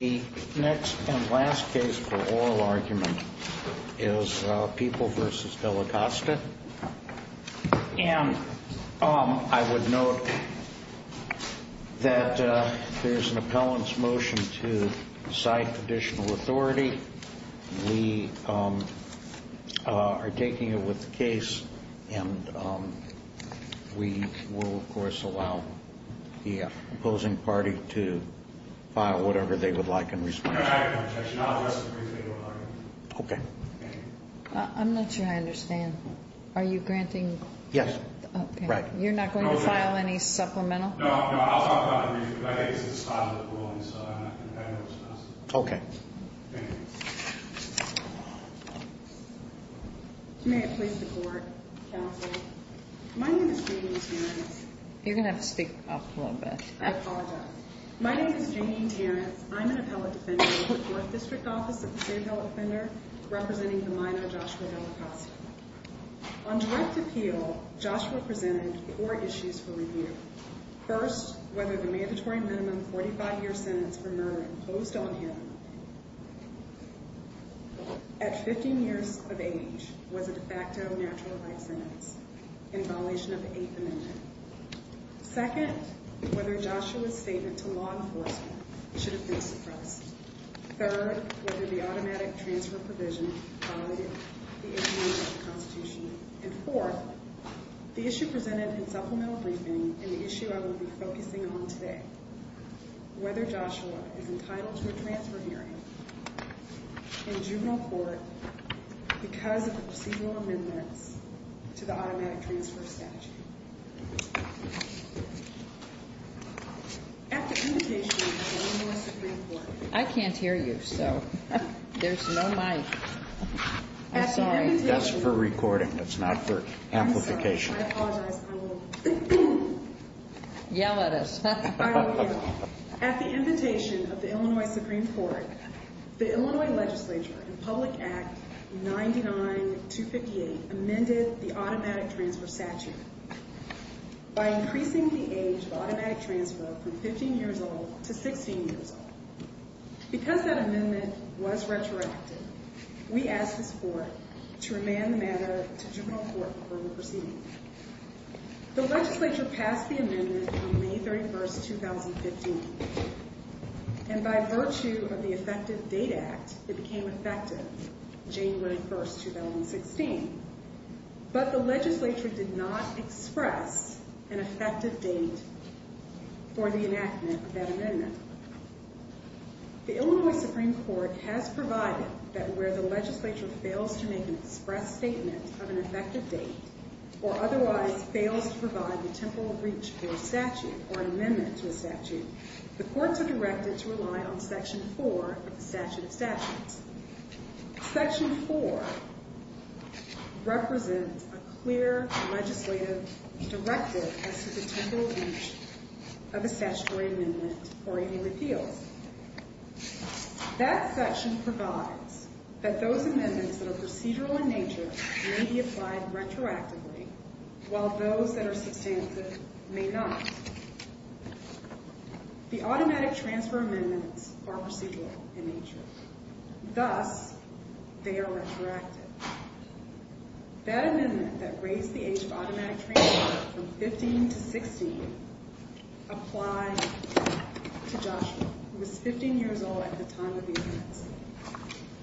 The next and last case for oral argument is People v. Dallacosta, and I would note that there's an appellant's motion to cite additional authority. We are taking it with the case, and we will, of course, allow the opposing party to file whatever they would like in response. I'm not sure I understand. Are you granting? Yes. Right. You're not going to file any supplemental? No, I'll talk about it briefly, but I think it's at the start of the ruling, so I have no response. Okay. May it please the Court, Counsel? My name is Janine Terrence. You're going to have to speak up a little bit. I apologize. My name is Janine Terrence. I'm an appellate defendant with the Court District Office of the State Health Offender, representing the minor Joshua Dallacosta. On direct appeal, Joshua presented four issues for review. First, whether the mandatory minimum 45-year sentence for murder imposed on him at 15 years of age was a de facto natural right sentence in violation of the Eighth Amendment. Second, whether Joshua's statement to law enforcement should have been suppressed. Third, whether the automatic transfer provision violated the Eighth Amendment of the Constitution. And fourth, the issue presented in supplemental briefing and the issue I will be focusing on today, whether Joshua is entitled to a transfer hearing in juvenile court because of the procedural amendments to the automatic transfer statute. At the invitation of the Illinois Supreme Court... I can't hear you, so there's no mic. I'm sorry. That's for recording. That's not for amplification. I'm sorry. I apologize. I will yell at us. I don't care. At the invitation of the Illinois Supreme Court, the Illinois legislature in Public Act 99258 amended the automatic transfer statute by increasing the age of automatic transfer from 15 years old to 16 years old. Because that amendment was retroactive, we asked this court to remand the matter to juvenile court for a proceeding. The legislature passed the amendment on May 31, 2015. And by virtue of the Effective Date Act, it became effective, January 1, 2016. But the legislature did not express an effective date for the enactment of that amendment. The Illinois Supreme Court has provided that where the legislature fails to make an express statement of an effective date or otherwise fails to provide the temporal reach for a statute or an amendment to a statute, the courts are directed to rely on Section 4 of the Statute of Statutes. Section 4 represents a clear legislative directive as to the temporal reach of a statutory amendment or any repeals. That section provides that those amendments that are procedural in nature may be applied retroactively, while those that are substantive may not. The automatic transfer amendments are procedural in nature. Thus, they are retroactive. That amendment that raised the age of automatic transfer from 15 to 16 applied to Joshua, who was 15 years old at the time of the offense.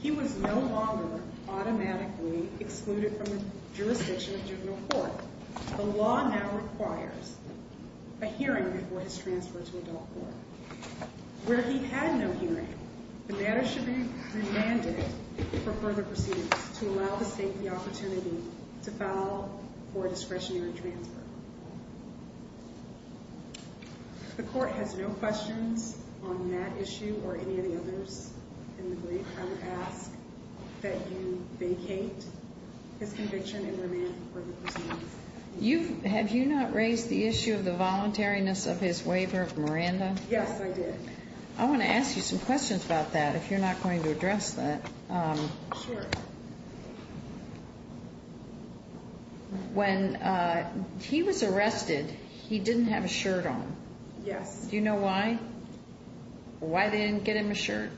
He was no longer automatically excluded from the jurisdiction of juvenile court. The law now requires a hearing before his transfer to adult court. Where he had no hearing, the matter should be remanded for further proceedings to allow the state the opportunity to file for a discretionary transfer. If the court has no questions on that issue or any of the others in the brief, I would ask that you vacate his conviction and remand for the proceedings. Have you not raised the issue of the voluntariness of his waiver of Miranda? Yes, I did. I want to ask you some questions about that, if you're not going to address that. Sure. When he was arrested, he didn't have a shirt on. Yes. Do you know why? Why they didn't get him a shirt?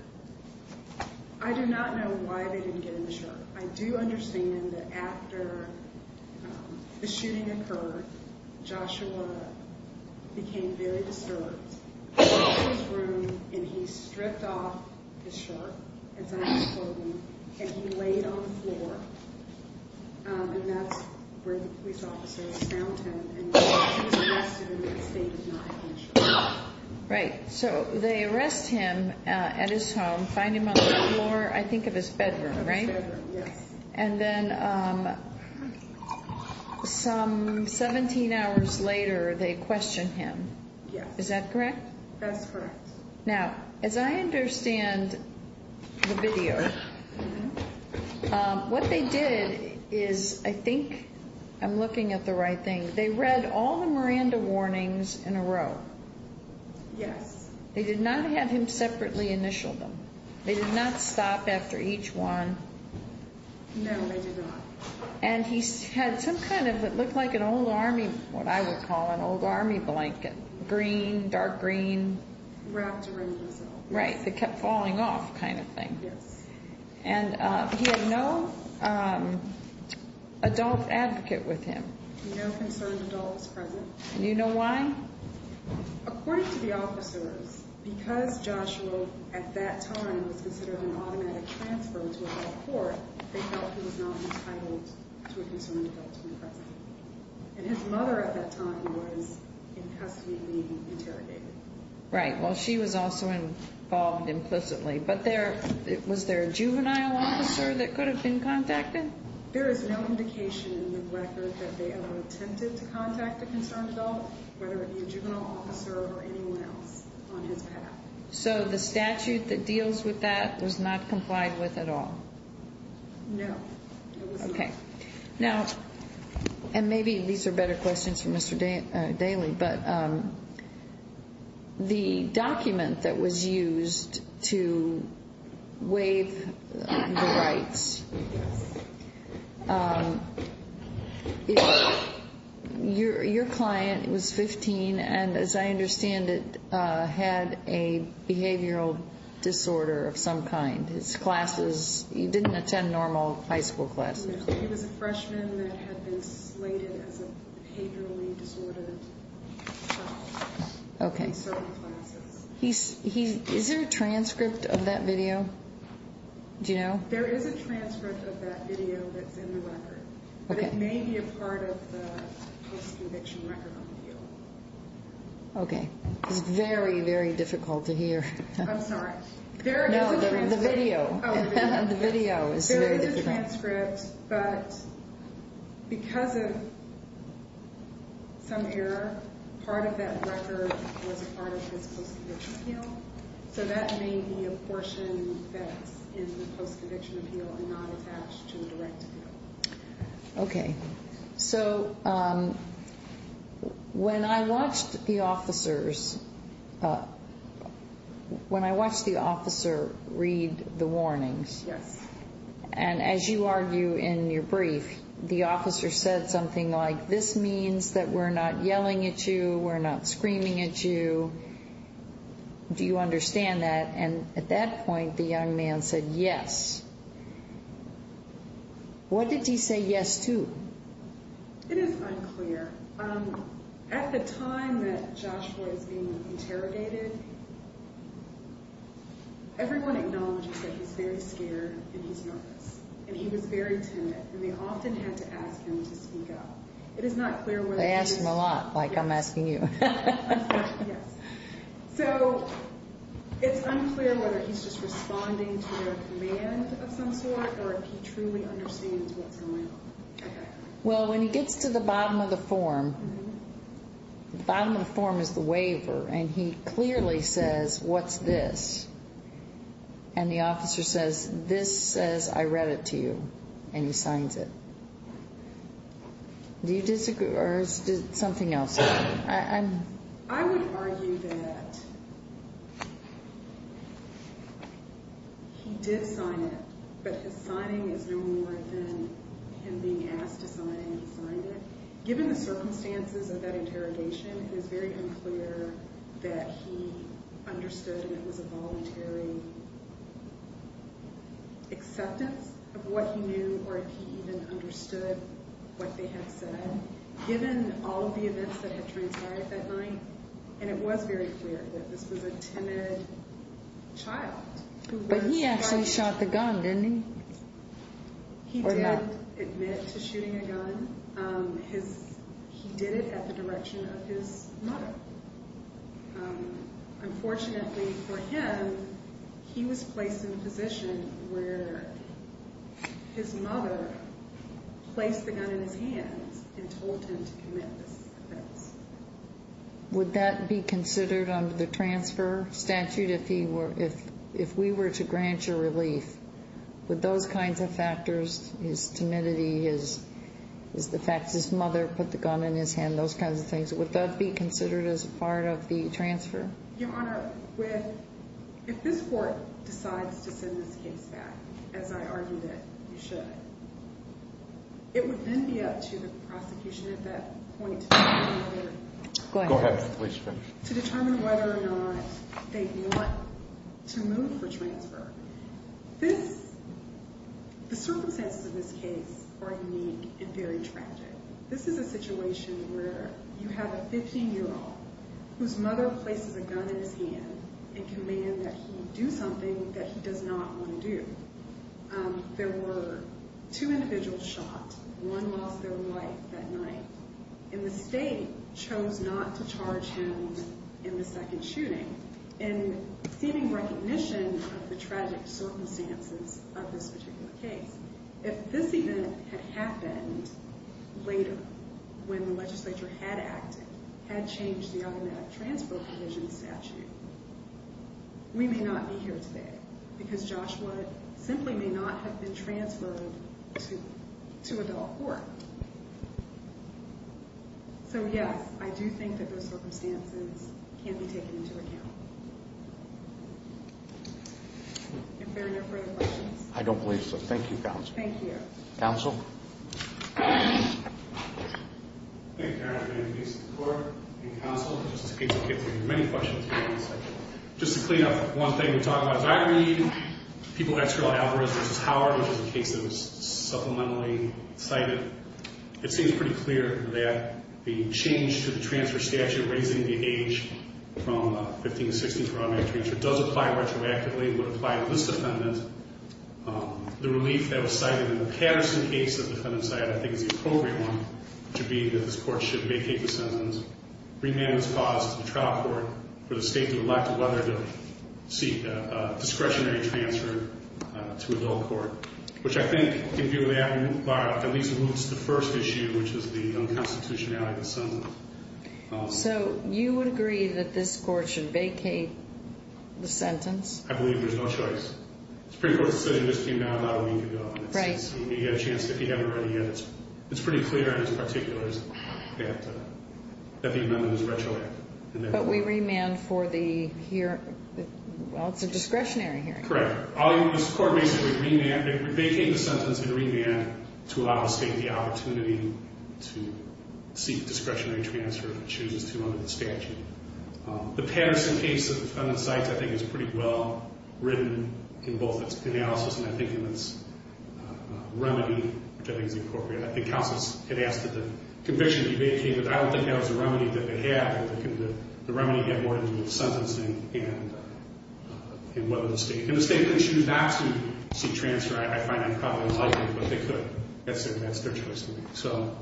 I do not know why they didn't get him a shirt. I do understand that after the shooting occurred, Joshua became very disturbed. He walked into his room, and he stripped off his shirt, as I have told you, and he laid on the floor, and that's where the police officers found him. He was arrested, and the state did not get him a shirt. Right. So they arrest him at his home, find him on the floor, I think of his bedroom, right? His bedroom, yes. And then some 17 hours later, they questioned him. Yes. Is that correct? That's correct. Now, as I understand the video, what they did is I think I'm looking at the right thing. They read all the Miranda warnings in a row. Yes. They did not have him separately initial them. They did not stop after each one. No, they did not. And he had some kind of what looked like an old Army, what I would call an old Army blanket, green, dark green. Wrapped around himself. Right, that kept falling off kind of thing. Yes. And he had no adult advocate with him. No concerned adults present. Do you know why? According to the officers, because Joshua at that time was considered an automatic transfer to adult court, they felt he was not entitled to a concerned adult when present. And his mother at that time was incestuously interrogated. Right. Well, she was also involved implicitly. But was there a juvenile officer that could have been contacted? There is no indication in the record that they ever attempted to contact a concerned adult, whether it be a juvenile officer or anyone else on his behalf. So the statute that deals with that was not complied with at all? No, it was not. Okay. Now, and maybe these are better questions for Mr. Daly, but the document that was used to waive the rights, your client was 15 and, as I understand it, had a behavioral disorder of some kind. His classes, he didn't attend normal high school classes. He was a freshman that had been slated as a behaviorally disordered child in certain classes. Is there a transcript of that video? Do you know? There is a transcript of that video that's in the record. But it may be a part of the post-eviction record on the field. Okay. It's very, very difficult to hear. I'm sorry. No, the video. The video is very difficult. There is a transcript. But because of some error, part of that record was a part of his post-eviction appeal. So that may be a portion that's in the post-eviction appeal and not attached to the direct appeal. Okay. So when I watched the officers read the warnings. Yes. And as you argue in your brief, the officer said something like, this means that we're not yelling at you, we're not screaming at you. Do you understand that? And at that point, the young man said yes. What did he say yes to? It is unclear. At the time that Joshua is being interrogated, everyone acknowledges that he's very scared and he's nervous. And he was very timid. And they often had to ask him to speak up. It is not clear whether he's. They ask him a lot, like I'm asking you. Yes. So it's unclear whether he's just responding to their command of some sort or if he truly understands what's going on. Well, when he gets to the bottom of the form, the bottom of the form is the waiver, and he clearly says, what's this? And the officer says, this says I read it to you. And he signs it. Do you disagree? Or is it something else? I would argue that he did sign it, but his signing is no more than him being asked to sign it and he signed it. Given the circumstances of that interrogation, it is very unclear that he understood and it was a voluntary acceptance of what he knew or if he even understood what they had said. And given all of the events that had transpired that night, and it was very clear that this was a timid child. But he actually shot the gun, didn't he? He did admit to shooting a gun. He did it at the direction of his mother. Unfortunately for him, he was placed in a position where his mother placed the gun in his hands and told him to commit this offense. Would that be considered under the transfer statute if we were to grant you relief? Would those kinds of factors, his timidity, the fact his mother put the gun in his hand, those kinds of things, would that be considered as part of the transfer? Your Honor, if this court decides to send this case back, as I argue that you should, it would then be up to the prosecution at that point to determine whether or not they want to move for transfer. The circumstances of this case are unique and very tragic. This is a situation where you have a 15-year-old whose mother places a gun in his hand and commands that he do something that he does not want to do. There were two individuals shot. One lost their life that night. And the state chose not to charge him in the second shooting. In seeming recognition of the tragic circumstances of this particular case, if this event had happened later when the legislature had acted, had changed the automatic transfer provision statute, we may not be here today because Joshua simply may not have been transferred to a bail court. So, yes, I do think that those circumstances can be taken into account. If there are no further questions. I don't believe so. Thank you, Counsel. Thank you. Counsel? Thank you, Your Honor. And thanks to the court and counsel. This is a case that will get through many questions. Just to clean up, one thing we talked about is I read people ask about Alvarez v. Howard, which is a case that was supplementally cited. It seems pretty clear that the change to the transfer statute, raising the age from 15 to 16 for automatic transfer, does apply retroactively. It would apply to this defendant. The relief that was cited in the Patterson case, the defendant cited, I think is the appropriate one to be that this court should vacate the sentence. Remand was caused to the trial court for the state to elect whether to seek a discretionary transfer to a bail court, which I think can do that and at least removes the first issue, which is the unconstitutionality of the sentence. So you would agree that this court should vacate the sentence? I believe there's no choice. The Supreme Court's decision just came out about a week ago. Right. You get a chance if you haven't read it yet. It's pretty clear in its particulars that the amendment is retroactive. But we remand for the hearing. Well, it's a discretionary hearing. Correct. This court basically vacated the sentence and remanded to allow the state the opportunity to seek discretionary transfer if it chooses to under the statute. The Patterson case of the defendant's site I think is pretty well written in both its analysis and I think in its remedy, which I think is appropriate. I think counsel had asked that the conviction be vacated. I don't think that was the remedy that they had. I think the remedy had more to do with sentencing and whether the state could choose not to seek transfer. I find that probably unlikely, but they could. That's their choice to make. So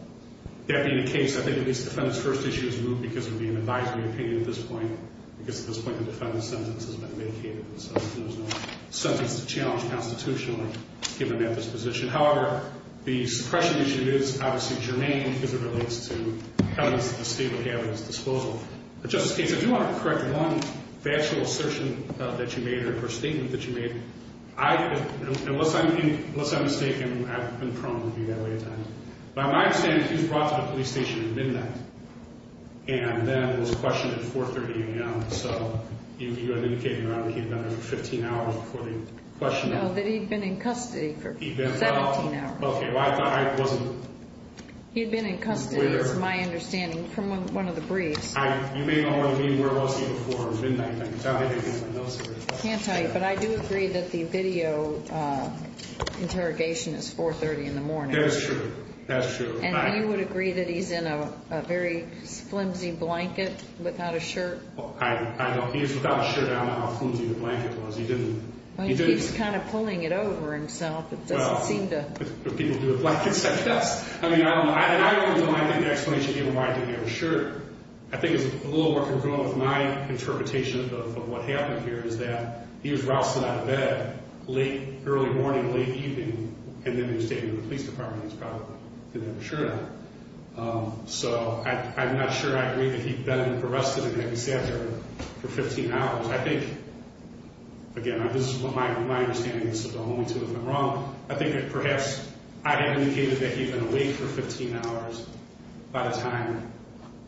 that being the case, I think at least the defendant's first issue is moved because it would be an advisory opinion at this point. I guess at this point the defendant's sentence has been vacated. So there's no sentence to challenge constitutionally given that disposition. However, the suppression issue is obviously germane because it relates to evidence at the state of the evidence disposal. But Justice Gates, if you want to correct one factual assertion that you made or a statement that you made, unless I'm mistaken, I've been prone to be that way at times. By my understanding, he was brought to the police station at midnight and then was questioned at 4.30 a.m. So you're indicating that he had been there for 15 hours before the questioning. No, that he had been in custody for 17 hours. Okay. He had been in custody is my understanding from one of the briefs. You may not want to mean where was he before midnight. I can't tell you. But I do agree that the video interrogation is 4.30 in the morning. That's true. And you would agree that he's in a very flimsy blanket without a shirt? I don't know. He was without a shirt. I don't know how flimsy the blanket was. He didn't. He keeps kind of pulling it over himself. It doesn't seem to. People do it like it's a test. I mean, I don't know. I don't think the explanation given why he didn't have a shirt, I think, is a little more congruent with my interpretation of what happened here, is that he was rousting out of bed late, early morning, late evening, and then he was taken to the police department. He probably didn't have a shirt on. So I'm not sure I agree that he'd been arrested and had to sit there for 15 hours. I think, again, this is my understanding. This is the only time it went wrong. I think that perhaps I indicated that he had been awake for 15 hours by the time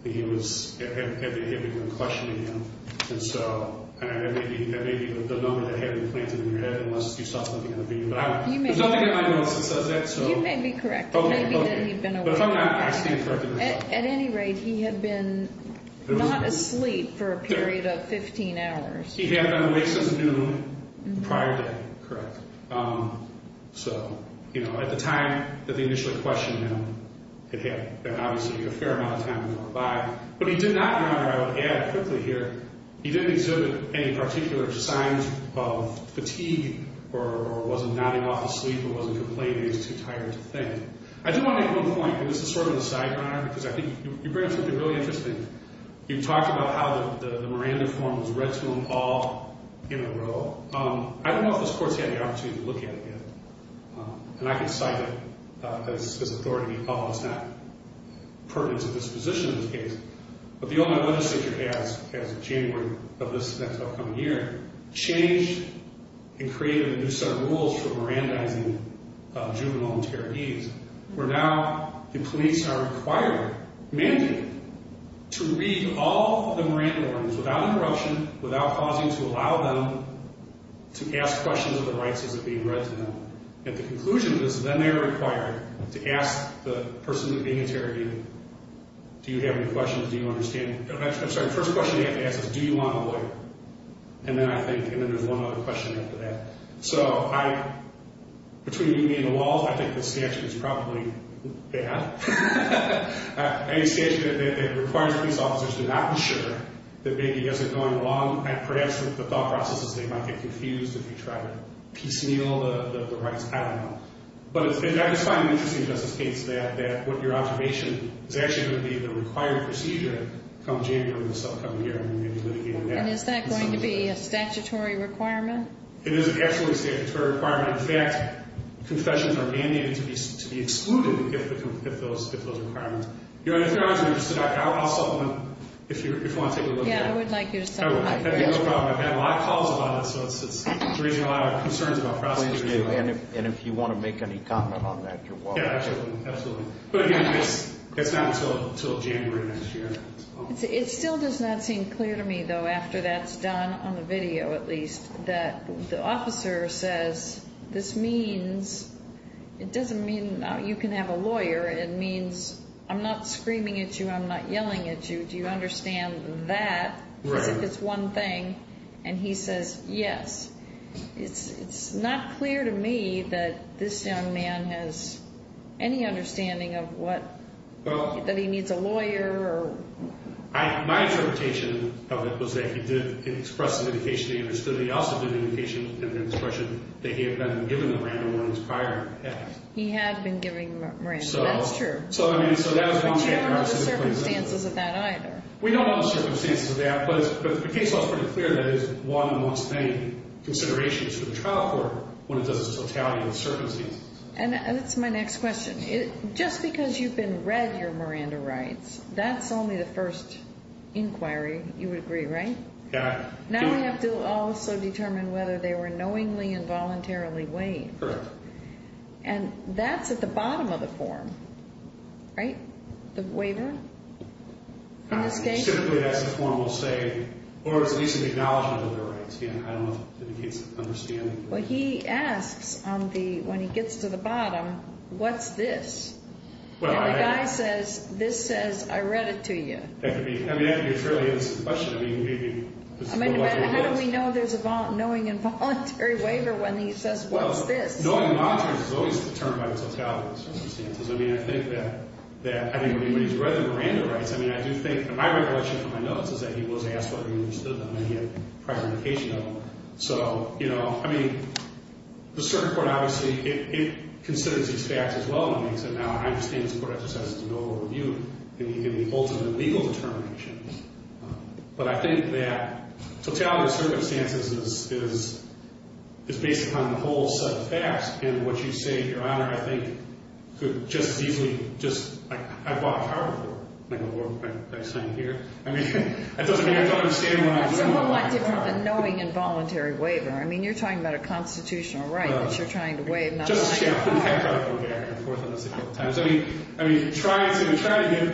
that he had been questioned again. And so that may be the moment that had been planted in your head unless you saw something in the video. There's nothing in my notes that says that. You may be correct. It may be that he'd been awake. But if I'm not, I stand corrected. At any rate, he had been not asleep for a period of 15 hours. He had been awake since noon the prior day. Correct. So, you know, at the time that they initially questioned him, it had obviously been a fair amount of time that went by. But he did not, and I would add quickly here, he didn't exhibit any particular signs of fatigue or wasn't nodding off to sleep or wasn't complaining that he was too tired to think. I do want to make one point, and this is sort of the sideburner, because I think you bring up something really interesting. You talked about how the Miranda form was read to him all in a row. I don't know if this court's had the opportunity to look at it yet, and I can cite it as this authority. Oh, it's not pertinent to this position in this case. But the Ohio legislature has, as of January of this next upcoming year, changed and created a new set of rules for Mirandaizing juvenile and terrorizees where now the police are required, mandated, to read all of the Miranda Ordinance without interruption, without pausing, to allow them to ask questions of the rights as it's being read to them. At the conclusion of this, then they are required to ask the person being interrogated, do you have any questions? Do you understand? I'm sorry, the first question you have to ask is, do you want a lawyer? And then I think, and then there's one other question after that. So between me and the walls, I think this statute is probably bad. Any statute that requires police officers to not be sure that maybe you guys are going along, perhaps the thought process is they might get confused if you try to piecemeal the rights. I don't know. But I just find it interesting, Justice Gates, that what your observation is actually going to be the required procedure come January of this upcoming year, and you're going to be litigating that. And is that going to be a statutory requirement? It is an absolutely statutory requirement. In fact, confessions are mandated to be excluded if those requirements. If you're interested, I'll supplement if you want to take a look at it. Yeah, I would like you to supplement. That would be no problem. I've had a lot of calls about it, so it's raising a lot of concerns about prosecution. And if you want to make any comment on that, you're welcome. Yeah, absolutely. But again, it's not until January of next year. It still does not seem clear to me, though, after that's done, on the video at least, that the officer says, this means, it doesn't mean you can have a lawyer. It means I'm not screaming at you. I'm not yelling at you. Do you understand that as if it's one thing? And he says, yes. It's not clear to me that this young man has any understanding of what, that he needs a lawyer. My interpretation of it was that he did express an indication that he understood. He also did an indication and an expression that he had been given Miranda warnings prior. He had been given Miranda. That's true. But you don't know the circumstances of that either. We don't know the circumstances of that. But the case law is pretty clear that it is one amongst many considerations for the trial court when it does a totality of the circumstances. And that's my next question. Just because you've been read your Miranda rights, that's only the first inquiry you would agree, right? Yeah. Now we have to also determine whether they were knowingly and voluntarily waived. Correct. And that's at the bottom of the form, right? The waiver? In this case? Typically, that's the form we'll say, or at least an acknowledgment of their rights. I don't know if that indicates understanding. Well, he asks when he gets to the bottom, what's this? And the guy says, this says, I read it to you. That could be a fairly innocent question. How do we know there's a knowing and voluntary waiver when he says, what's this? Knowing and voluntary is always determined by the totality of the circumstances. I mean, I think that when he's read the Miranda rights, I mean, I do think my recollection from my notes is that he was asked whether he understood them and he had prior indication of them. So, you know, I mean, the circuit court, obviously, it considers these facts as well. It makes it now, I understand the court just has to go over the view in the ultimate legal determinations. But I think that totality of circumstances is based upon the whole set of facts. And what you say, Your Honor, I think could just as easily just, like, I bought a car before. I'm not going to go over what I'm saying here. I mean, it doesn't mean I don't understand what I'm saying. It's a whole lot different than knowing and voluntary waiver. I mean, you're talking about a constitutional right that you're trying to waive. Just to go back and forth on this a couple of times. I mean, trying to get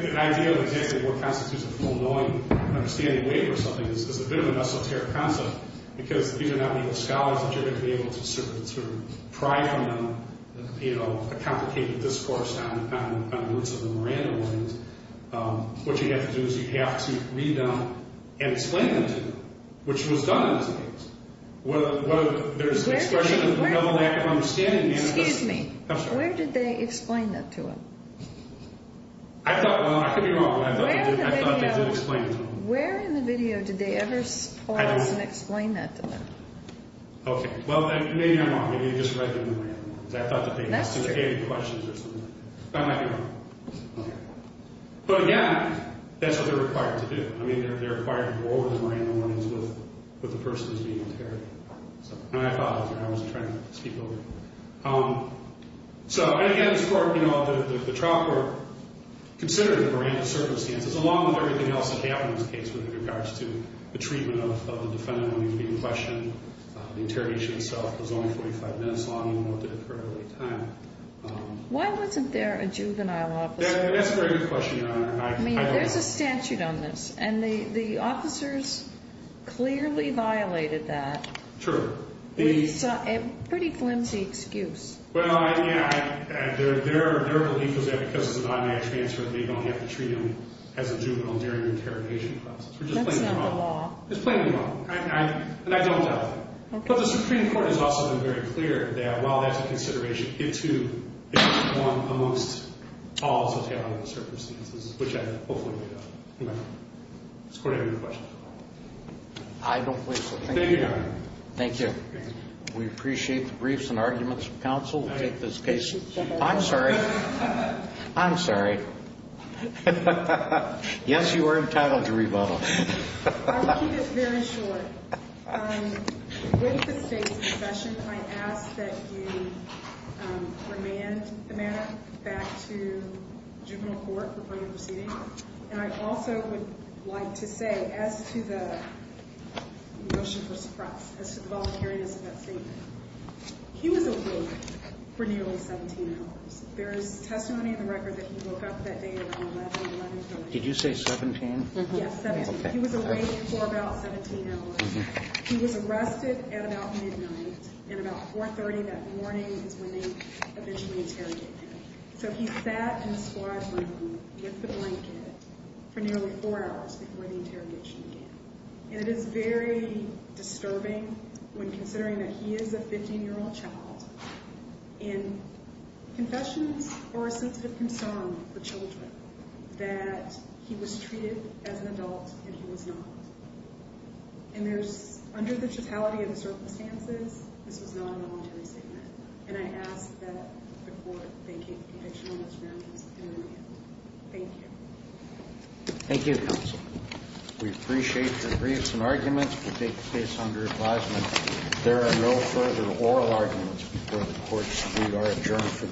an idea of exactly what constitutes a full knowing and understanding waiver or something is a bit of a mesoteric concept because these are not legal scholars that you're going to be able to sort of pry from them, you know, a complicated discourse on the words of the Miranda ones. And what you have to do is you have to read them and explain them to them, which was done in this case. There's an expression of a lack of understanding. Excuse me. I'm sorry. Where did they explain that to them? I thought, well, I could be wrong. I thought they did explain it to them. Where in the video did they ever pause and explain that to them? Okay. Well, maybe I'm wrong. Maybe they just read the Miranda ones. That's true. I might be wrong. Okay. But, again, that's what they're required to do. I mean, they're required to go over the Miranda warnings with the person who's being interrogated. My apologies. I wasn't trying to speak over you. So, again, as far as, you know, the trial court considered the Miranda circumstances, along with everything else that happened in this case with regards to the treatment of the defendant when he was being questioned, the interrogation itself was only 45 minutes long Why wasn't there a juvenile officer? That's a very good question, Your Honor. I mean, there's a statute on this, and the officers clearly violated that. True. We saw a pretty flimsy excuse. Well, I mean, their belief was that because it's a non-man transfer, they don't have to treat him as a juvenile during the interrogation process. That's not the law. It's plainly wrong. And I don't doubt that. But the Supreme Court has also been very clear that, while that's a consideration, it, too, is one amongst all of the surveillance circumstances, which I hopefully made up. Mr. Court, I have another question. I don't believe so. Thank you, Your Honor. Thank you. We appreciate the briefs and arguments from counsel. We'll take this case. I'm sorry. I'm sorry. Yes, you were entitled to revoke. I'll keep it very short. With the state's concession, I ask that you remand the matter back to juvenile court before you're proceeding. And I also would like to say, as to the motion for suppress, as to the voluntariness of that statement, he was awake for nearly 17 hours. There is testimony in the record that he woke up that day around 11, 11 p.m. Did you say 17? Yes, 17. He was awake for about 17 hours. He was arrested at about midnight, and about 4.30 that morning is when they eventually interrogate him. So he sat in the squad room with the blanket for nearly four hours before the interrogation began. And it is very disturbing when considering that he is a 15-year-old child, and confessions or receipts have confirmed for children that he was treated as an adult and he was not. And there's, under the totality of the circumstances, this was not a voluntary statement. And I ask that the court vacate the conviction on this grounds and remand. Thank you. Thank you, counsel. We appreciate your briefs and arguments. We'll take the case under advisement. If there are no further oral arguments before the court, we are adjourned for the day. All rise.